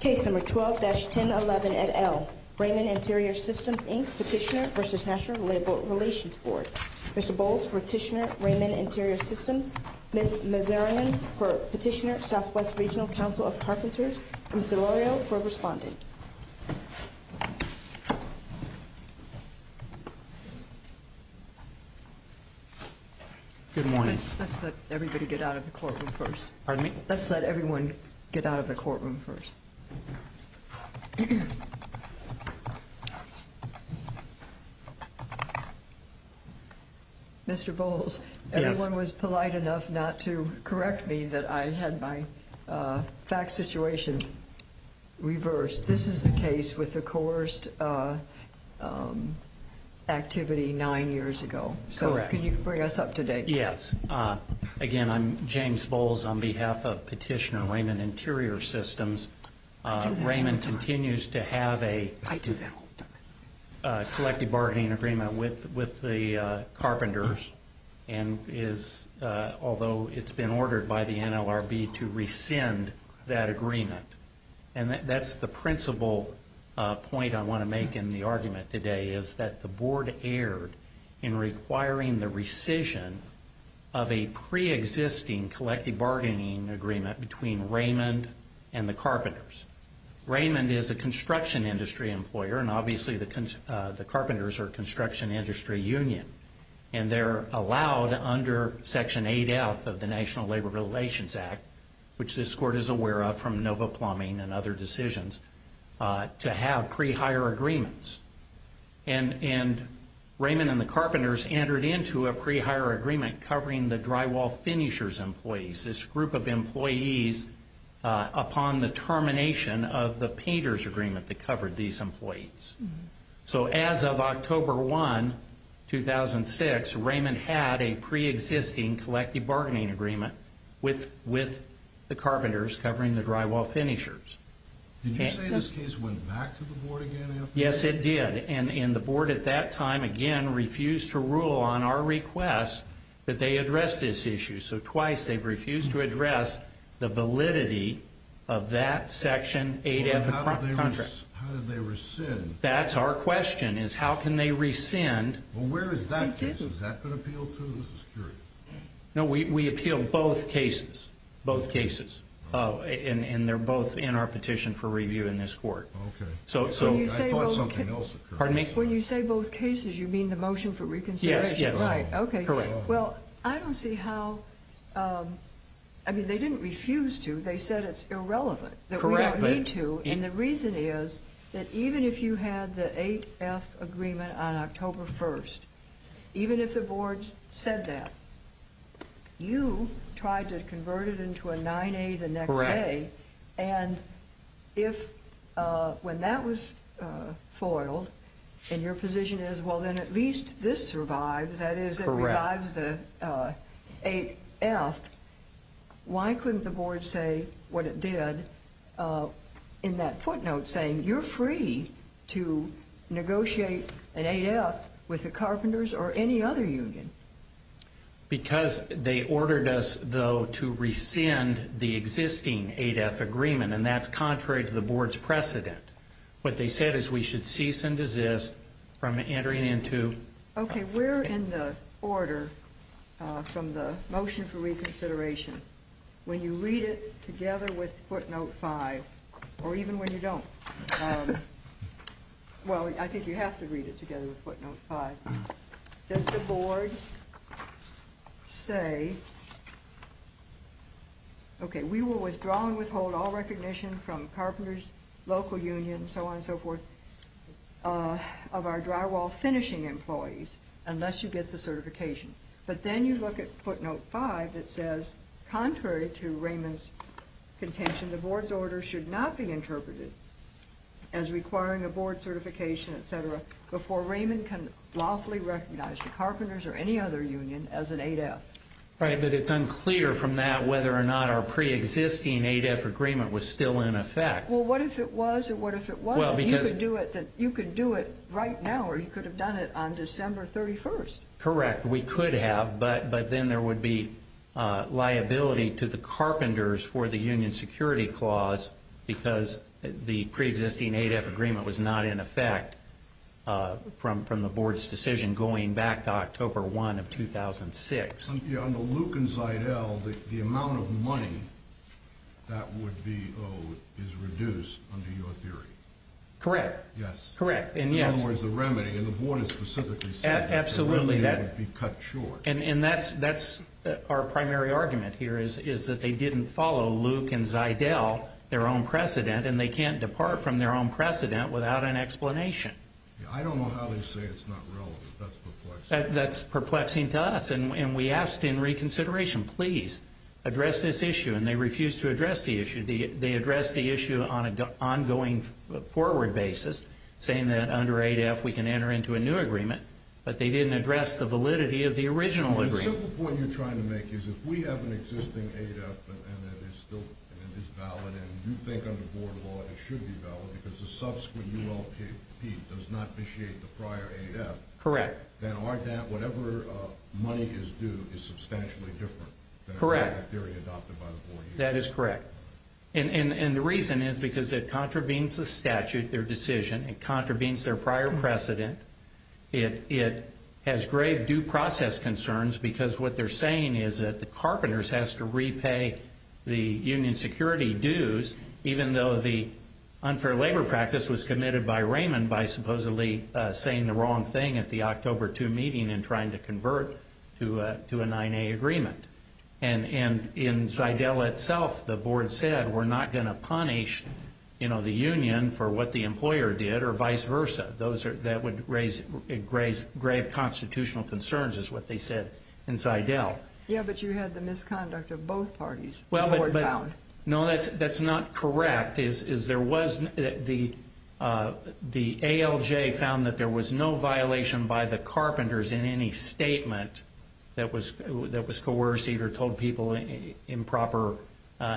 Case number 12-1011 at L. Raymond Interior Systems, Inc, Petitioner v. National Labor Relations Board. Mr. Bowles for Petitioner, Raymond Interior Systems. Ms. Mazarin for Petitioner, Southwest Regional Council of Carpenters. Mr. Lario for Respondent. Good morning. Let's let everybody get out of the courtroom first. Pardon me? Let's let everyone get out of the courtroom first. Mr. Bowles, everyone was polite enough not to correct me that I had my fact situation reversed. This is the case with the coerced activity nine years ago. Correct. So can you bring us up to date? Yes. Again, I'm James Bowles on behalf of Petitioner, Raymond Interior Systems. Raymond continues to have a collective bargaining agreement with the carpenters, although it's been ordered by the NLRB to rescind that agreement. And that's the principal point I want to make in the argument today, is that the board erred in requiring the rescission of a preexisting collective bargaining agreement between Raymond and the carpenters. Raymond is a construction industry employer, and obviously the carpenters are construction industry union. And they're allowed under Section 8F of the National Labor Relations Act, which this court is aware of from NOVA plumbing and other decisions, to have pre-hire agreements. And Raymond and the carpenters entered into a pre-hire agreement covering the drywall finishers employees, this group of employees upon the termination of the painters agreement that covered these employees. So as of October 1, 2006, Raymond had a preexisting collective bargaining agreement with the carpenters covering the drywall finishers. Did you say this case went back to the board again after that? Yes, it did. And the board at that time, again, refused to rule on our request that they address this issue. So twice they've refused to address the validity of that Section 8F contract. How did they rescind? That's our question, is how can they rescind? Well, where is that case? Has that been appealed to? This is curious. No, we appeal both cases. Both cases. And they're both in our petition for review in this court. Okay. I thought something else occurred. Pardon me? When you say both cases, you mean the motion for reconsideration? Yes, yes. Right, okay. Well, I don't see how – I mean, they didn't refuse to. They said it's irrelevant. Correct. They don't need to. And the reason is that even if you had the 8F agreement on October 1st, even if the board said that, you tried to convert it into a 9A the next day. Correct. And if – when that was foiled, and your position is, well, then at least this survives, that is, it revives the 8F, why couldn't the board say what it did in that footnote saying, you're free to negotiate an 8F with the Carpenters or any other union? Because they ordered us, though, to rescind the existing 8F agreement, and that's contrary to the board's precedent. What they said is we should cease and desist from entering into – Okay, we're in the order from the motion for reconsideration. When you read it together with footnote 5, or even when you don't – well, I think you have to read it together with footnote 5. Does the board say, okay, we will withdraw and withhold all recognition from Carpenters, local unions, so on and so forth, of our drywall finishing employees, unless you get the certification. But then you look at footnote 5, it says, contrary to Raymond's contention, the board's order should not be interpreted as requiring a board certification, etc., before Raymond can lawfully recognize the Carpenters or any other union as an 8F. Right, but it's unclear from that whether or not our preexisting 8F agreement was still in effect. Well, what if it was, and what if it wasn't? Well, because – You could do it right now, or you could have done it on December 31st. Correct, we could have, but then there would be liability to the Carpenters for the union security clause, because the preexisting 8F agreement was not in effect from the board's decision going back to October 1 of 2006. Yeah, under Luke and Zidelle, the amount of money that would be owed is reduced under your theory. Correct. Yes. Correct, and yes – In other words, the remedy, and the board has specifically said – Absolutely. The remedy would be cut short. And that's our primary argument here, is that they didn't follow Luke and Zidelle, their own precedent, and they can't depart from their own precedent without an explanation. I don't know how they say it's not relevant. That's perplexing. That's perplexing to us, and we asked in reconsideration, please, address this issue, and they refused to address the issue. They addressed the issue on an ongoing forward basis, saying that under 8F we can enter into a new agreement, but they didn't address the validity of the original agreement. The simple point you're trying to make is, if we have an existing 8F and it is valid, and you think under board law it should be valid because the subsequent ULP does not initiate the prior 8F – Correct. Then our – whatever money is due is substantially different than the theory adopted by the board. That is correct. And the reason is because it contravenes the statute, their decision. It contravenes their prior precedent. It has grave due process concerns because what they're saying is that the Carpenters has to repay the union security dues, even though the unfair labor practice was committed by Raymond by supposedly saying the wrong thing at the October 2 meeting and trying to convert to a 9A agreement. And in Zydell itself, the board said we're not going to punish the union for what the employer did or vice versa. That would raise grave constitutional concerns is what they said in Zydell. Yeah, but you had the misconduct of both parties, the board found. No, that's not correct. The fact is there was – the ALJ found that there was no violation by the Carpenters in any statement that was coerced or told people improper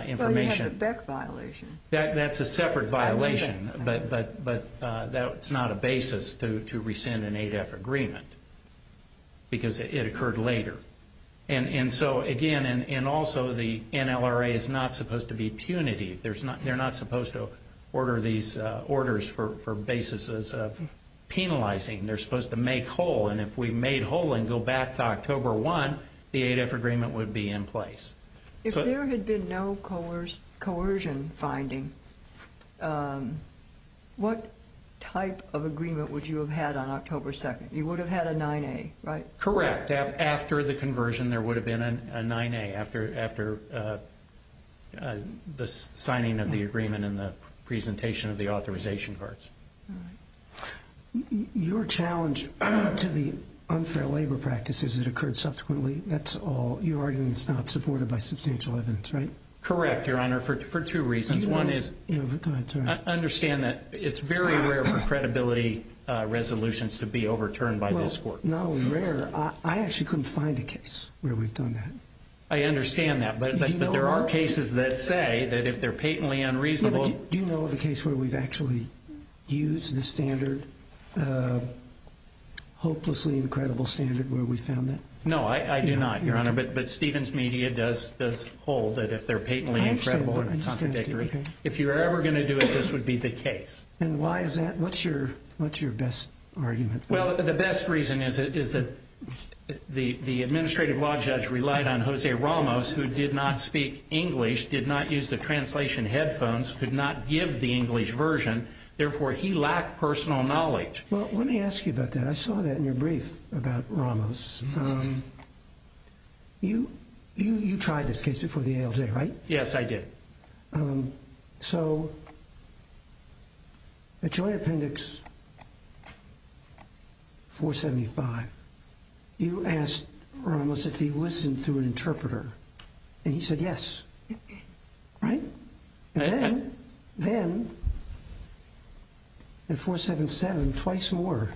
information. Well, you have the Beck violation. That's a separate violation, but that's not a basis to rescind an 8F agreement because it occurred later. And so, again, and also the NLRA is not supposed to be punitive. They're not supposed to order these orders for basis of penalizing. They're supposed to make whole, and if we made whole and go back to October 1, the 8F agreement would be in place. If there had been no coercion finding, what type of agreement would you have had on October 2? You would have had a 9A, right? Correct. After the conversion, there would have been a 9A after the signing of the agreement and the presentation of the authorization cards. Your challenge to the unfair labor practice is it occurred subsequently. That's all. Your argument is not supported by substantial evidence, right? Correct, Your Honor, for two reasons. One is – Go ahead. I understand that it's very rare for credibility resolutions to be overturned by this court. Not only rare, I actually couldn't find a case where we've done that. I understand that, but there are cases that say that if they're patently unreasonable – Do you know of a case where we've actually used the standard, hopelessly incredible standard, where we found that? No, I do not, Your Honor, but Stevens Media does hold that if they're patently incredible and contradictory, if you're ever going to do it, this would be the case. And why is that? What's your best argument? Well, the best reason is that the administrative law judge relied on Jose Ramos, who did not speak English, did not use the translation headphones, could not give the English version. Therefore, he lacked personal knowledge. Well, let me ask you about that. I saw that in your brief about Ramos. You tried this case before the ALJ, right? Yes, I did. So, at Joint Appendix 475, you asked Ramos if he listened through an interpreter, and he said yes, right? And then, in 477, twice more,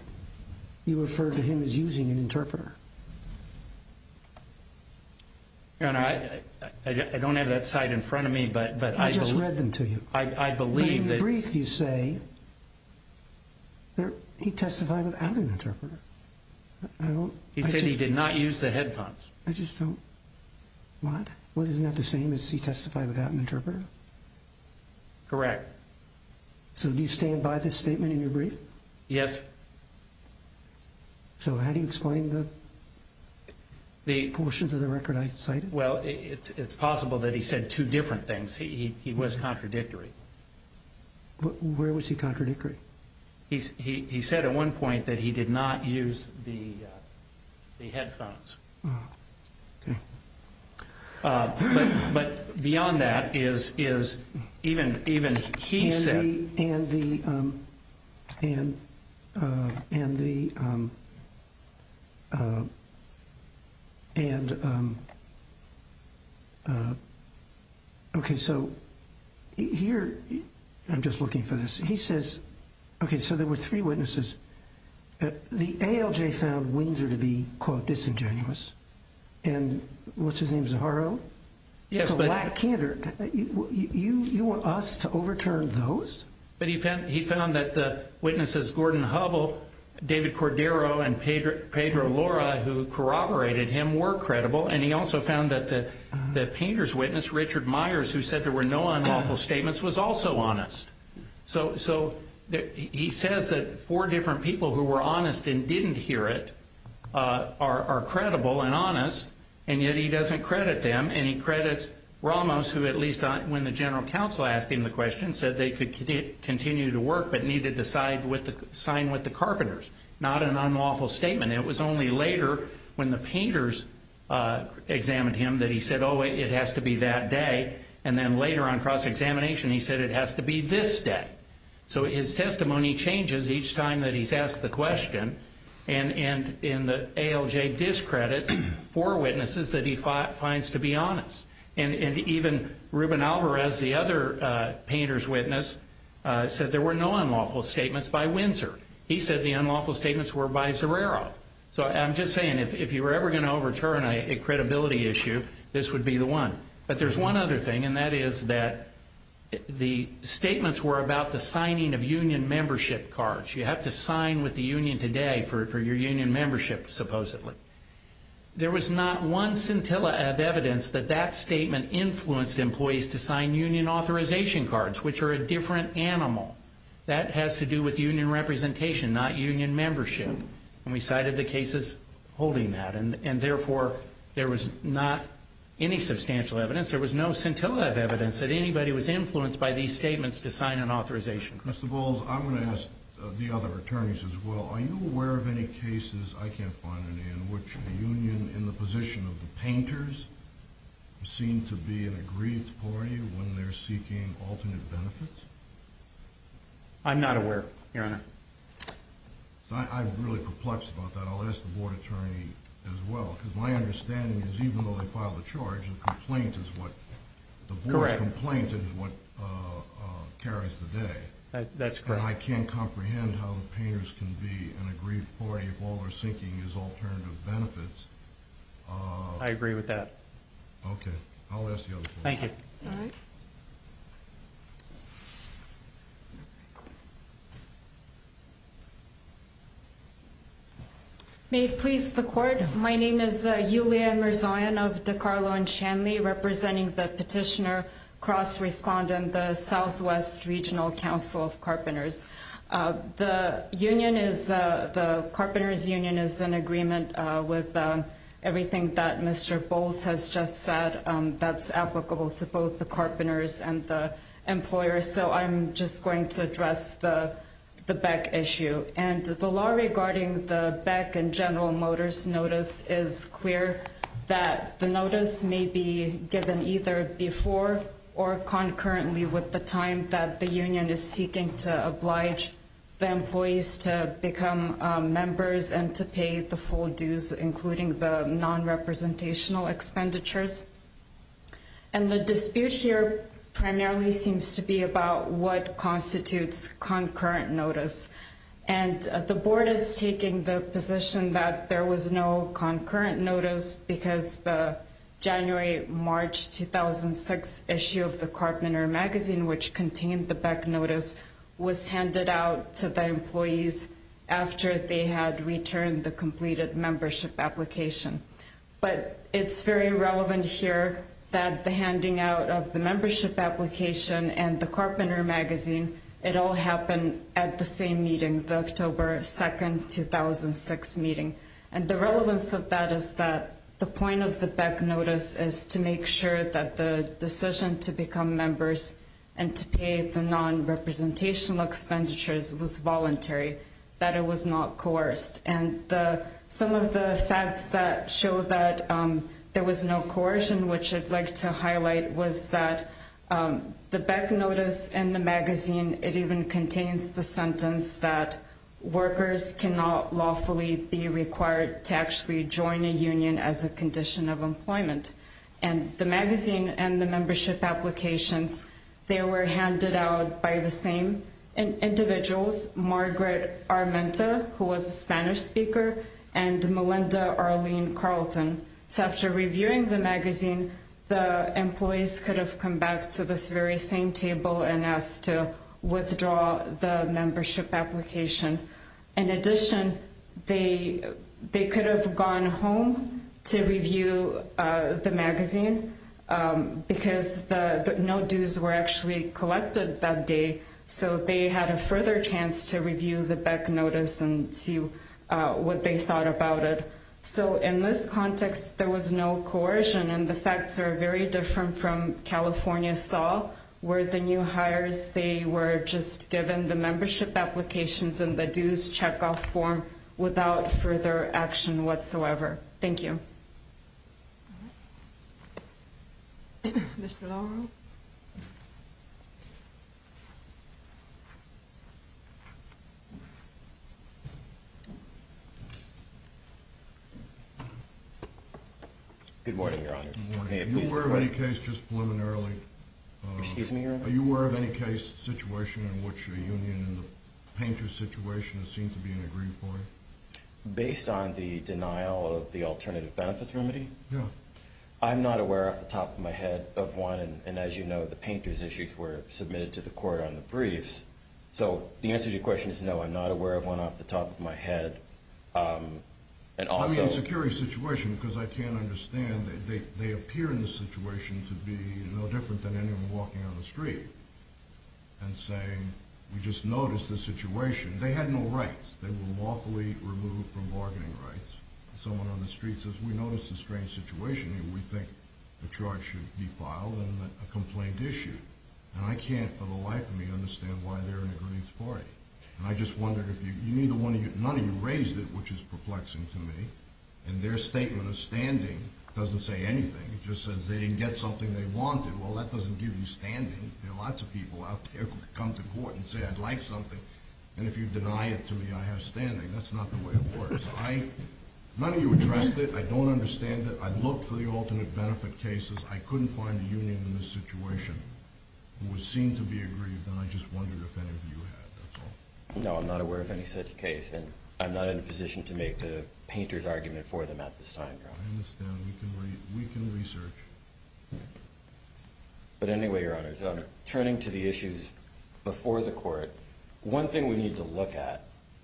you referred to him as using an interpreter. Your Honor, I don't have that cite in front of me, but I believe – I just read them to you. I believe that – But in your brief, you say he testified without an interpreter. He said he did not use the headphones. I just don't – what? Isn't that the same as he testified without an interpreter? Correct. So, do you stand by this statement in your brief? Yes. So, how do you explain the portions of the record I cited? Well, it's possible that he said two different things. He was contradictory. Where was he contradictory? He said at one point that he did not use the headphones. Oh, okay. But beyond that is even he said – And the – okay, so here – I'm just looking for this. He says – okay, so there were three witnesses. The ALJ found Wienzer to be, quote, disingenuous. And what's his name, Zaharo? Yes, but – But he found that the witnesses, Gordon Hubble, David Cordero, and Pedro Lora, who corroborated him, were credible. And he also found that the painter's witness, Richard Myers, who said there were no unlawful statements, was also honest. So he says that four different people who were honest and didn't hear it are credible and honest, and yet he doesn't credit them. And he credits Ramos, who, at least when the general counsel asked him the question, said they could continue to work but need to sign with the carpenters. Not an unlawful statement. It was only later when the painters examined him that he said, oh, it has to be that day. And then later on, cross-examination, he said it has to be this day. So his testimony changes each time that he's asked the question. And in the ALJ discredits four witnesses that he finds to be honest. And even Ruben Alvarez, the other painter's witness, said there were no unlawful statements by Wienzer. He said the unlawful statements were by Zaharo. So I'm just saying, if you were ever going to overturn a credibility issue, this would be the one. But there's one other thing, and that is that the statements were about the signing of union membership cards. You have to sign with the union today for your union membership, supposedly. There was not one scintilla of evidence that that statement influenced employees to sign union authorization cards, which are a different animal. That has to do with union representation, not union membership. And we cited the cases holding that. And therefore, there was not any substantial evidence. There was no scintilla of evidence that anybody was influenced by these statements to sign an authorization card. Mr. Bowles, I'm going to ask the other attorneys as well. Are you aware of any cases, I can't find any, in which the union in the position of the painters seem to be in a grieved party when they're seeking alternate benefits? I'm not aware, Your Honor. I'm really perplexed about that. I'll ask the board attorney as well. Because my understanding is, even though they filed a charge, the board's complaint is what carries the day. That's correct. And I can't comprehend how the painters can be in a grieved party if all they're seeking is alternative benefits. I agree with that. Okay. I'll ask the other court. Thank you. May it please the court. My name is Yulia Mirzoyan of DiCarlo and Shanley, representing the petitioner cross-respondent, the Southwest Regional Council of Carpenters. The union is, the carpenters' union is in agreement with everything that Mr. Bowles has just said. That's applicable to both the carpenters and the employers. So I'm just going to address the Beck issue. And the law regarding the Beck and General Motors notice is clear that the notice may be given either before or concurrently with the time that the union is seeking to oblige the employees to become members and to pay the full dues, including the non-representational expenditures. And the dispute here primarily seems to be about what constitutes concurrent notice. And the board is taking the position that there was no concurrent notice because the January-March 2006 issue of the Carpenter Magazine, which contained the Beck notice, was handed out to the employees after they had returned the completed membership application. But it's very relevant here that the handing out of the membership application and the Carpenter Magazine, it all happened at the same meeting, the October 2, 2006 meeting. And the relevance of that is that the point of the Beck notice is to make sure that the decision to become members and to pay the non-representational expenditures was voluntary, that it was not coerced. And some of the facts that show that there was no coercion, which I'd like to highlight, was that the Beck notice and the magazine, it even contains the sentence that workers cannot lawfully be required to actually join a union as a condition of employment. And the magazine and the membership applications, they were handed out by the same individuals, Margaret Armenta, who was a Spanish speaker, and Melinda Arlene Carlton. So after reviewing the magazine, the employees could have come back to this very same table and asked to withdraw the membership application. In addition, they could have gone home to review the magazine because no dues were actually collected that day, so they had a further chance to review the Beck notice and see what they thought about it. So in this context, there was no coercion, and the facts are very different from California saw, where the new hires, they were just given the membership applications and the dues checkoff form without further action whatsoever. Thank you. All right. Mr. Lauro. Good morning, Your Honor. Good morning. May it please the Court? Are you aware of any case just preliminarily? Excuse me, Your Honor? Are you aware of any case situation in which a union in the painter situation is seen to be an agreed point? Based on the denial of the alternative benefits remedy, I'm not aware off the top of my head of one, and as you know, the painter's issues were submitted to the Court on the briefs. So the answer to your question is no, I'm not aware of one off the top of my head. I mean, it's a curious situation because I can't understand. They appear in the situation to be no different than anyone walking down the street and saying, we just noticed the situation. They had no rights. They were lawfully removed from bargaining rights. Someone on the street says, we noticed a strange situation, and we think the charge should be filed and a complaint issued. And I can't for the life of me understand why they're in a Greens party. And I just wondered if you need one of your – none of you raised it, which is perplexing to me. And their statement of standing doesn't say anything. It just says they didn't get something they wanted. Well, that doesn't give you standing. There are lots of people out there who could come to court and say, I'd like something, and if you deny it to me, I have standing. That's not the way it works. I – none of you addressed it. I don't understand it. I looked for the alternate benefit cases. I couldn't find a union in this situation. It would seem to be agreed, and I just wondered if any of you had. That's all. No, I'm not aware of any such case, and I'm not in a position to make the painter's argument for them at this time, Your Honor. I understand. We can research. But anyway, Your Honor, turning to the issues before the court, one thing we need to look at,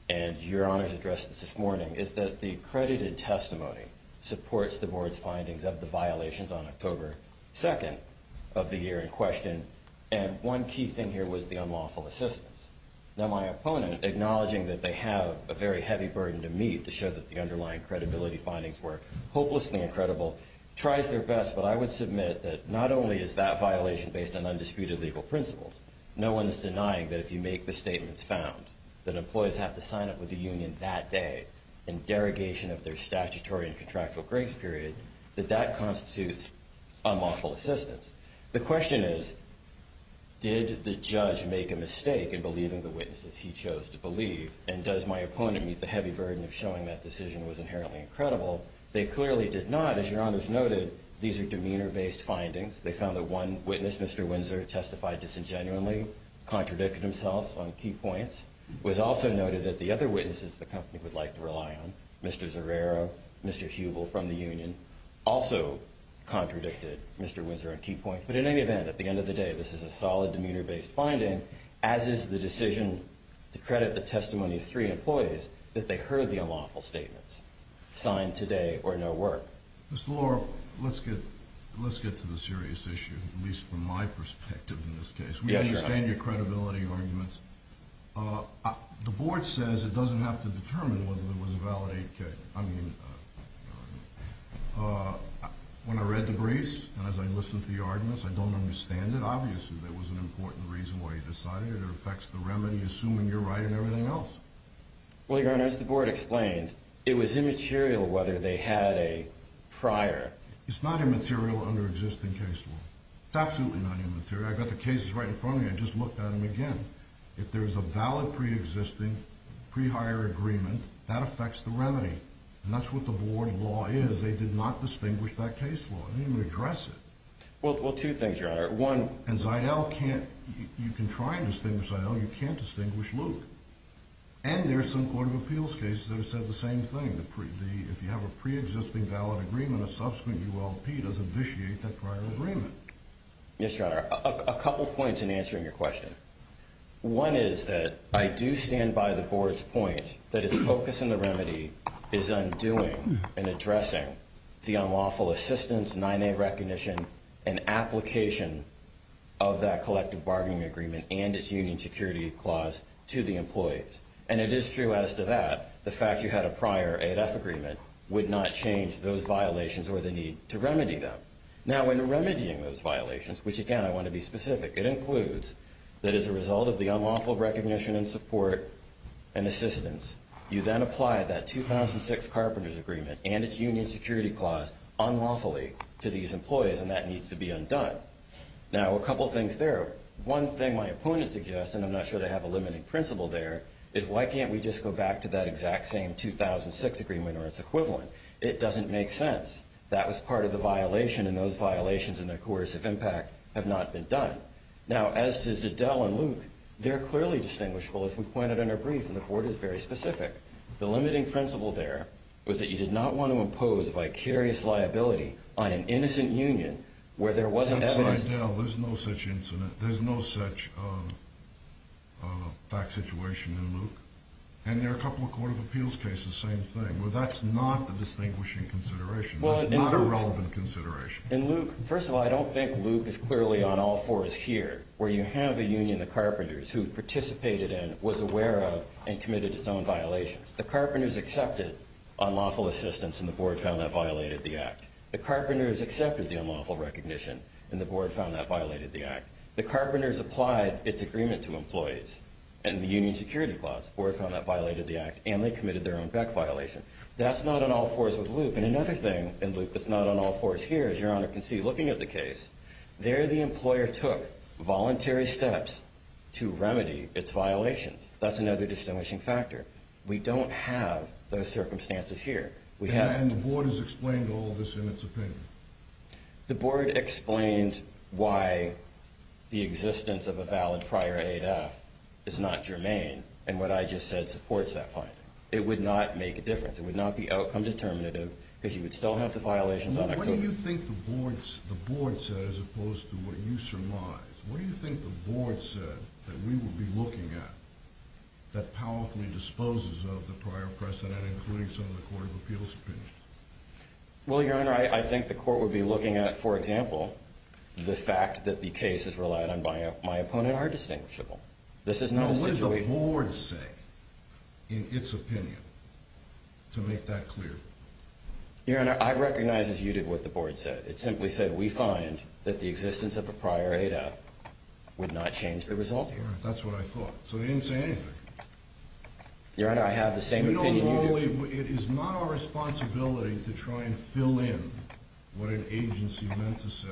and Your Honor's addressed this morning, is that the accredited testimony supports the board's findings of the violations on October 2nd of the year in question, and one key thing here was the unlawful assistance. Now, my opponent, acknowledging that they have a very heavy burden to meet to show that the underlying credibility findings were hopelessly incredible, tries their best, but I would submit that not only is that violation based on undisputed legal principles, no one is denying that if you make the statements found, that employees have to sign up with the union that day in derogation of their statutory and contractual grace period, that that constitutes unlawful assistance. The question is, did the judge make a mistake in believing the witnesses he chose to believe, and does my opponent meet the heavy burden of showing that decision was inherently incredible? They clearly did not. As Your Honor's noted, these are demeanor-based findings. They found that one witness, Mr. Windsor, testified disingenuously, contradicted himself on key points. It was also noted that the other witnesses the company would like to rely on, Mr. Zerrero, Mr. Hubel from the union, also contradicted Mr. Windsor on key points. But in any event, at the end of the day, this is a solid demeanor-based finding, as is the decision to credit the testimony of three employees that they heard the unlawful statements sign today or no work. Mr. Lora, let's get to the serious issue, at least from my perspective in this case. We understand your credibility arguments. The Board says it doesn't have to determine whether there was a valid 8K. I mean, when I read the briefs and as I listened to your arguments, I don't understand it. Obviously, there was an important reason why you decided it. It affects the remedy, assuming you're right, and everything else. Well, Your Honor, as the Board explained, it was immaterial whether they had a prior. It's not immaterial under existing case law. It's absolutely not immaterial. I've got the cases right in front of me. I just looked at them again. If there's a valid pre-existing, pre-hire agreement, that affects the remedy, and that's what the Board law is. They did not distinguish that case law. They didn't even address it. Well, two things, Your Honor. One— And Zidell can't—you can try and distinguish Zidell. You can't distinguish Luke. And there are some Court of Appeals cases that have said the same thing. If you have a pre-existing valid agreement, a subsequent ULP doesn't vitiate that prior agreement. Yes, Your Honor. A couple points in answering your question. One is that I do stand by the Board's point that its focus in the remedy is undoing and addressing the unlawful assistance, 9A recognition, and application of that collective bargaining agreement and its union security clause to the employees. And it is true as to that, the fact you had a prior 8F agreement would not change those violations or the need to remedy them. Now, when remedying those violations, which, again, I want to be specific, it includes that as a result of the unlawful recognition and support and assistance, you then apply that 2006 carpenters agreement and its union security clause unlawfully to these employees, and that needs to be undone. Now, a couple things there. One thing my opponent suggests, and I'm not sure they have a limiting principle there, is why can't we just go back to that exact same 2006 agreement or its equivalent? It doesn't make sense. That was part of the violation, and those violations and the coercive impact have not been done. Now, as to Zidell and Luke, they're clearly distinguishable, as we pointed in our brief, and the Court is very specific. The limiting principle there was that you did not want to impose vicarious liability on an innocent union where there wasn't evidence. Except Zidell. There's no such incident. There's no such fact situation in Luke. And there are a couple of court of appeals cases, same thing. Well, that's not the distinguishing consideration. That's not a relevant consideration. In Luke, first of all, I don't think Luke is clearly on all fours here, where you have a union, the Carpenters, who participated in, was aware of, and committed its own violations. The Carpenters accepted unlawful assistance, and the Board found that violated the Act. The Carpenters accepted the unlawful recognition, and the Board found that violated the Act. The Carpenters applied its agreement to employees in the union security clause. The Board found that violated the Act, and they committed their own Beck violation. That's not on all fours with Luke. And another thing in Luke that's not on all fours here, as Your Honor can see looking at the case, there the employer took voluntary steps to remedy its violations. That's another distinguishing factor. We don't have those circumstances here. And the Board has explained all of this in its opinion. The Board explained why the existence of a valid prior aid act is not germane, and what I just said supports that finding. It would not make a difference. It would not be outcome determinative, because you would still have the violations on October. What do you think the Board said as opposed to what you surmised? What do you think the Board said that we would be looking at that powerfully disposes of the prior precedent, including some of the Court of Appeals' opinions? Well, Your Honor, I think the Court would be looking at, for example, the fact that the cases relied on by my opponent are distinguishable. This is not a situation. Now, what did the Board say in its opinion to make that clear? Your Honor, I recognize as you did what the Board said. It simply said we find that the existence of a prior aid act would not change the result here. That's what I thought. So they didn't say anything. Your Honor, I have the same opinion you do. It is not our responsibility to try and fill in what an agency meant to say,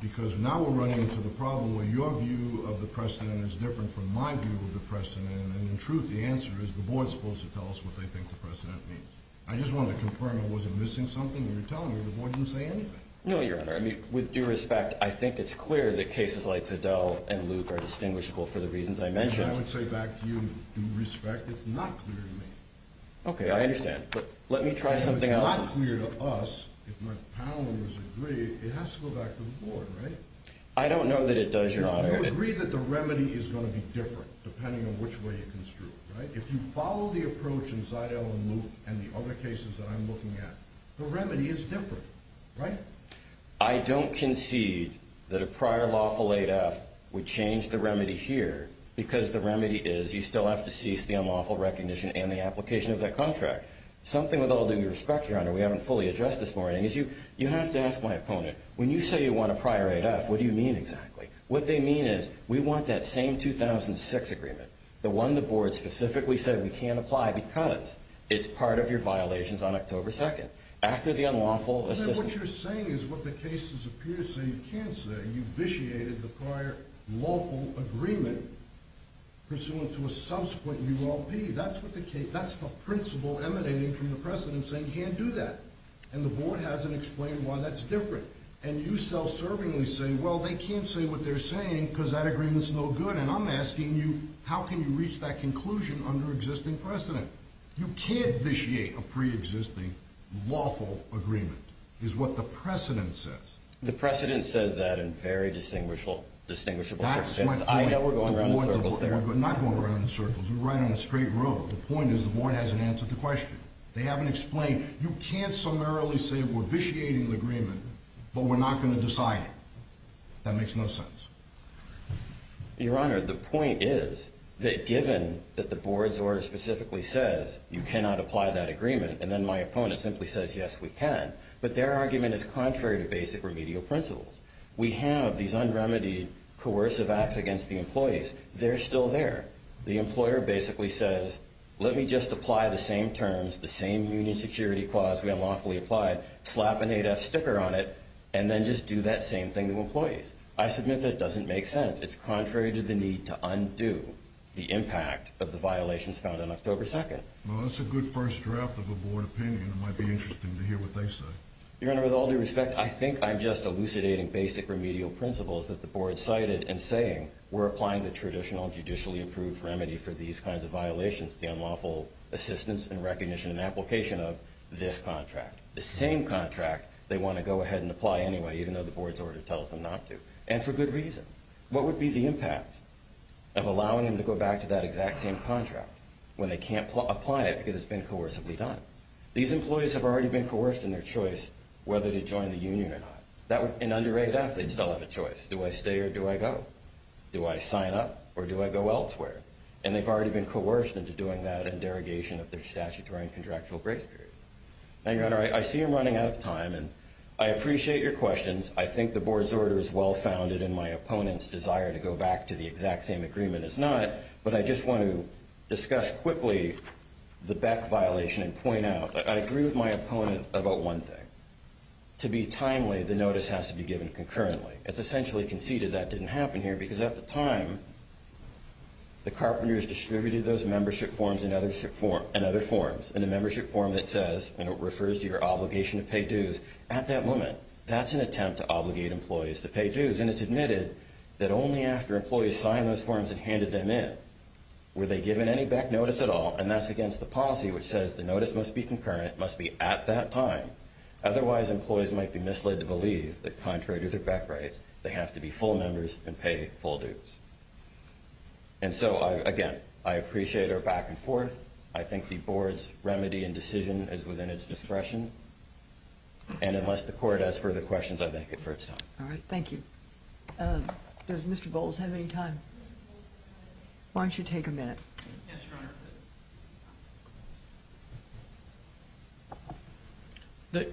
because now we're running into the problem where your view of the precedent is different from my view of the precedent, and in truth the answer is the Board is supposed to tell us what they think the precedent means. I just wanted to confirm. Was it missing something when you were telling me the Board didn't say anything? No, Your Honor. With due respect, I think it's clear that cases like Tadell and Luke are distinguishable for the reasons I mentioned. I would say back to you, due respect, it's not clear to me. Okay, I understand. But let me try something else. If it's not clear to us, if my panel members agree, it has to go back to the Board, right? I don't know that it does, Your Honor. You agree that the remedy is going to be different depending on which way you construe it, right? If you follow the approach in Tadell and Luke and the other cases that I'm looking at, the remedy is different, right? I don't concede that a prior lawful 8F would change the remedy here, because the remedy is you still have to cease the unlawful recognition and the application of that contract. Something with all due respect, Your Honor, we haven't fully addressed this morning, is you have to ask my opponent, when you say you want a prior 8F, what do you mean exactly? What they mean is we want that same 2006 agreement, the one the Board specifically said we can't apply because it's part of your violations on October 2nd, after the unlawful assessment. What you're saying is what the cases appear to say you can't say. You vitiated the prior lawful agreement pursuant to a subsequent ULP. That's the principle emanating from the precedent saying you can't do that. And the Board hasn't explained why that's different. And you self-servingly say, well, they can't say what they're saying because that agreement's no good, and I'm asking you how can you reach that conclusion under existing precedent? You can't vitiate a preexisting lawful agreement is what the precedent says. The precedent says that in very distinguishable terms. I know we're going around in circles there. We're not going around in circles. We're right on a straight road. The point is the Board hasn't answered the question. They haven't explained. You can't summarily say we're vitiating the agreement, but we're not going to decide it. That makes no sense. Your Honor, the point is that given that the Board's order specifically says you cannot apply that agreement and then my opponent simply says, yes, we can, but their argument is contrary to basic remedial principles. We have these unremedied coercive acts against the employees. They're still there. The employer basically says let me just apply the same terms, the same union security clause we unlawfully applied, slap an ADEF sticker on it, and then just do that same thing to employees. I submit that doesn't make sense. It's contrary to the need to undo the impact of the violations found on October 2nd. Well, that's a good first draft of a Board opinion. It might be interesting to hear what they say. Your Honor, with all due respect, I think I'm just elucidating basic remedial principles that the Board cited in saying we're applying the traditional judicially approved remedy for these kinds of violations, the unlawful assistance and recognition and application of this contract, the same contract they want to go ahead and apply anyway, even though the Board's order tells them not to, and for good reason. What would be the impact of allowing them to go back to that exact same contract when they can't apply it because it's been coercively done? These employees have already been coerced in their choice whether to join the union or not. In underrated athletes, they'll have a choice. Do I stay or do I go? Do I sign up or do I go elsewhere? And they've already been coerced into doing that in derogation of their statutory and contractual grace period. Now, Your Honor, I see I'm running out of time, and I appreciate your questions. I think the Board's order is well-founded, and my opponent's desire to go back to the exact same agreement is not, but I just want to discuss quickly the Beck violation and point out that I agree with my opponent about one thing. To be timely, the notice has to be given concurrently. It's essentially conceded that didn't happen here because at the time, the carpenters distributed those membership forms and other forms in a membership form that says and it refers to your obligation to pay dues at that moment. That's an attempt to obligate employees to pay dues, and it's admitted that only after employees signed those forms and handed them in were they given any Beck notice at all, and that's against the policy, which says the notice must be concurrent, must be at that time. Otherwise, employees might be misled to believe that contrary to their Beck rights, they have to be full members and pay full dues. And so, again, I appreciate our back and forth. I think the Board's remedy and decision is within its discretion, and unless the Court has further questions, I thank it for its time. All right. Thank you. Does Mr. Bowles have any time? Why don't you take a minute? Yes, Your Honor.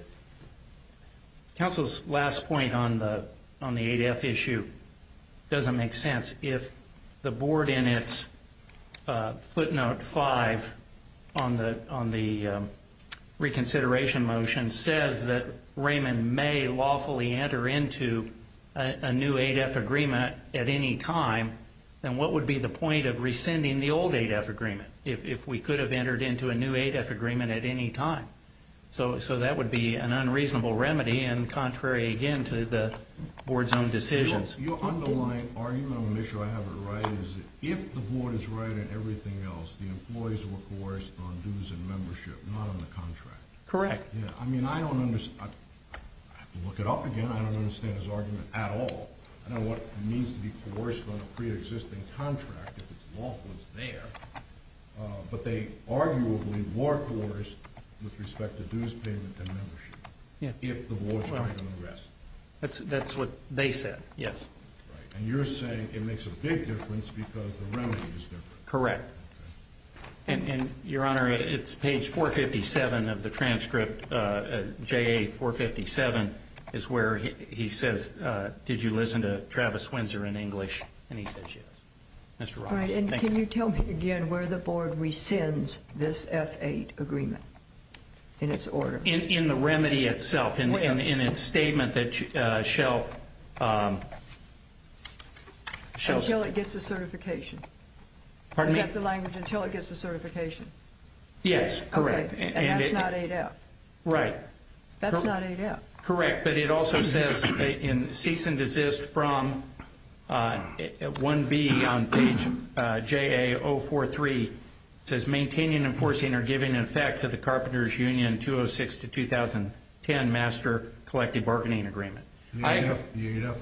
Counsel's last point on the 8F issue doesn't make sense. If the Board, in its footnote 5 on the reconsideration motion, says that Raymond may lawfully enter into a new 8F agreement at any time, then what would be the point of rescinding the old 8F agreement if we could have entered into a new 8F agreement at any time? So that would be an unreasonable remedy and contrary, again, to the Board's own decisions. Your underlying argument, I want to make sure I have it right, is if the Board is right on everything else, the employees were coerced on dues and membership, not on the contract. Correct. I mean, I don't understand. I have to look it up again. I don't understand his argument at all. I don't know what it means to be coerced on a preexisting contract if its lawful is there, but they arguably were coerced with respect to dues payment and membership if the Board's right on the rest. That's what they said, yes. And you're saying it makes a big difference because the remedy is different. Correct. And, Your Honor, it's page 457 of the transcript, JA457, is where he says, did you listen to Travis Windsor in English? And he says yes. Mr. Rogers, thank you. All right, and can you tell me again where the Board rescinds this F8 agreement in its order? In the remedy itself, in its statement that shall... Until it gets a certification. Pardon me? Is that the language, until it gets a certification? Yes, correct. Okay, and that's not 8F. Right. That's not 8F. Correct, but it also says in cease and desist from 1B on page JA043, it says maintaining and enforcing or giving in effect to the Carpenters Union 206-2010 Master Collective Bargaining Agreement. The 8F agreement.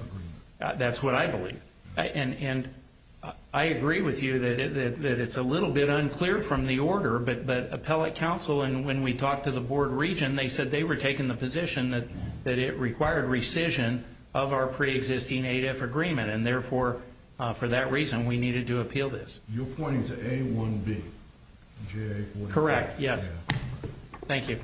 That's what I believe. And I agree with you that it's a little bit unclear from the order, but appellate counsel, and when we talked to the Board region, they said they were taking the position that it required rescission of our preexisting 8F agreement, and therefore, for that reason, we needed to appeal this. You're pointing to A1B, JA457. Correct, yes. Thank you.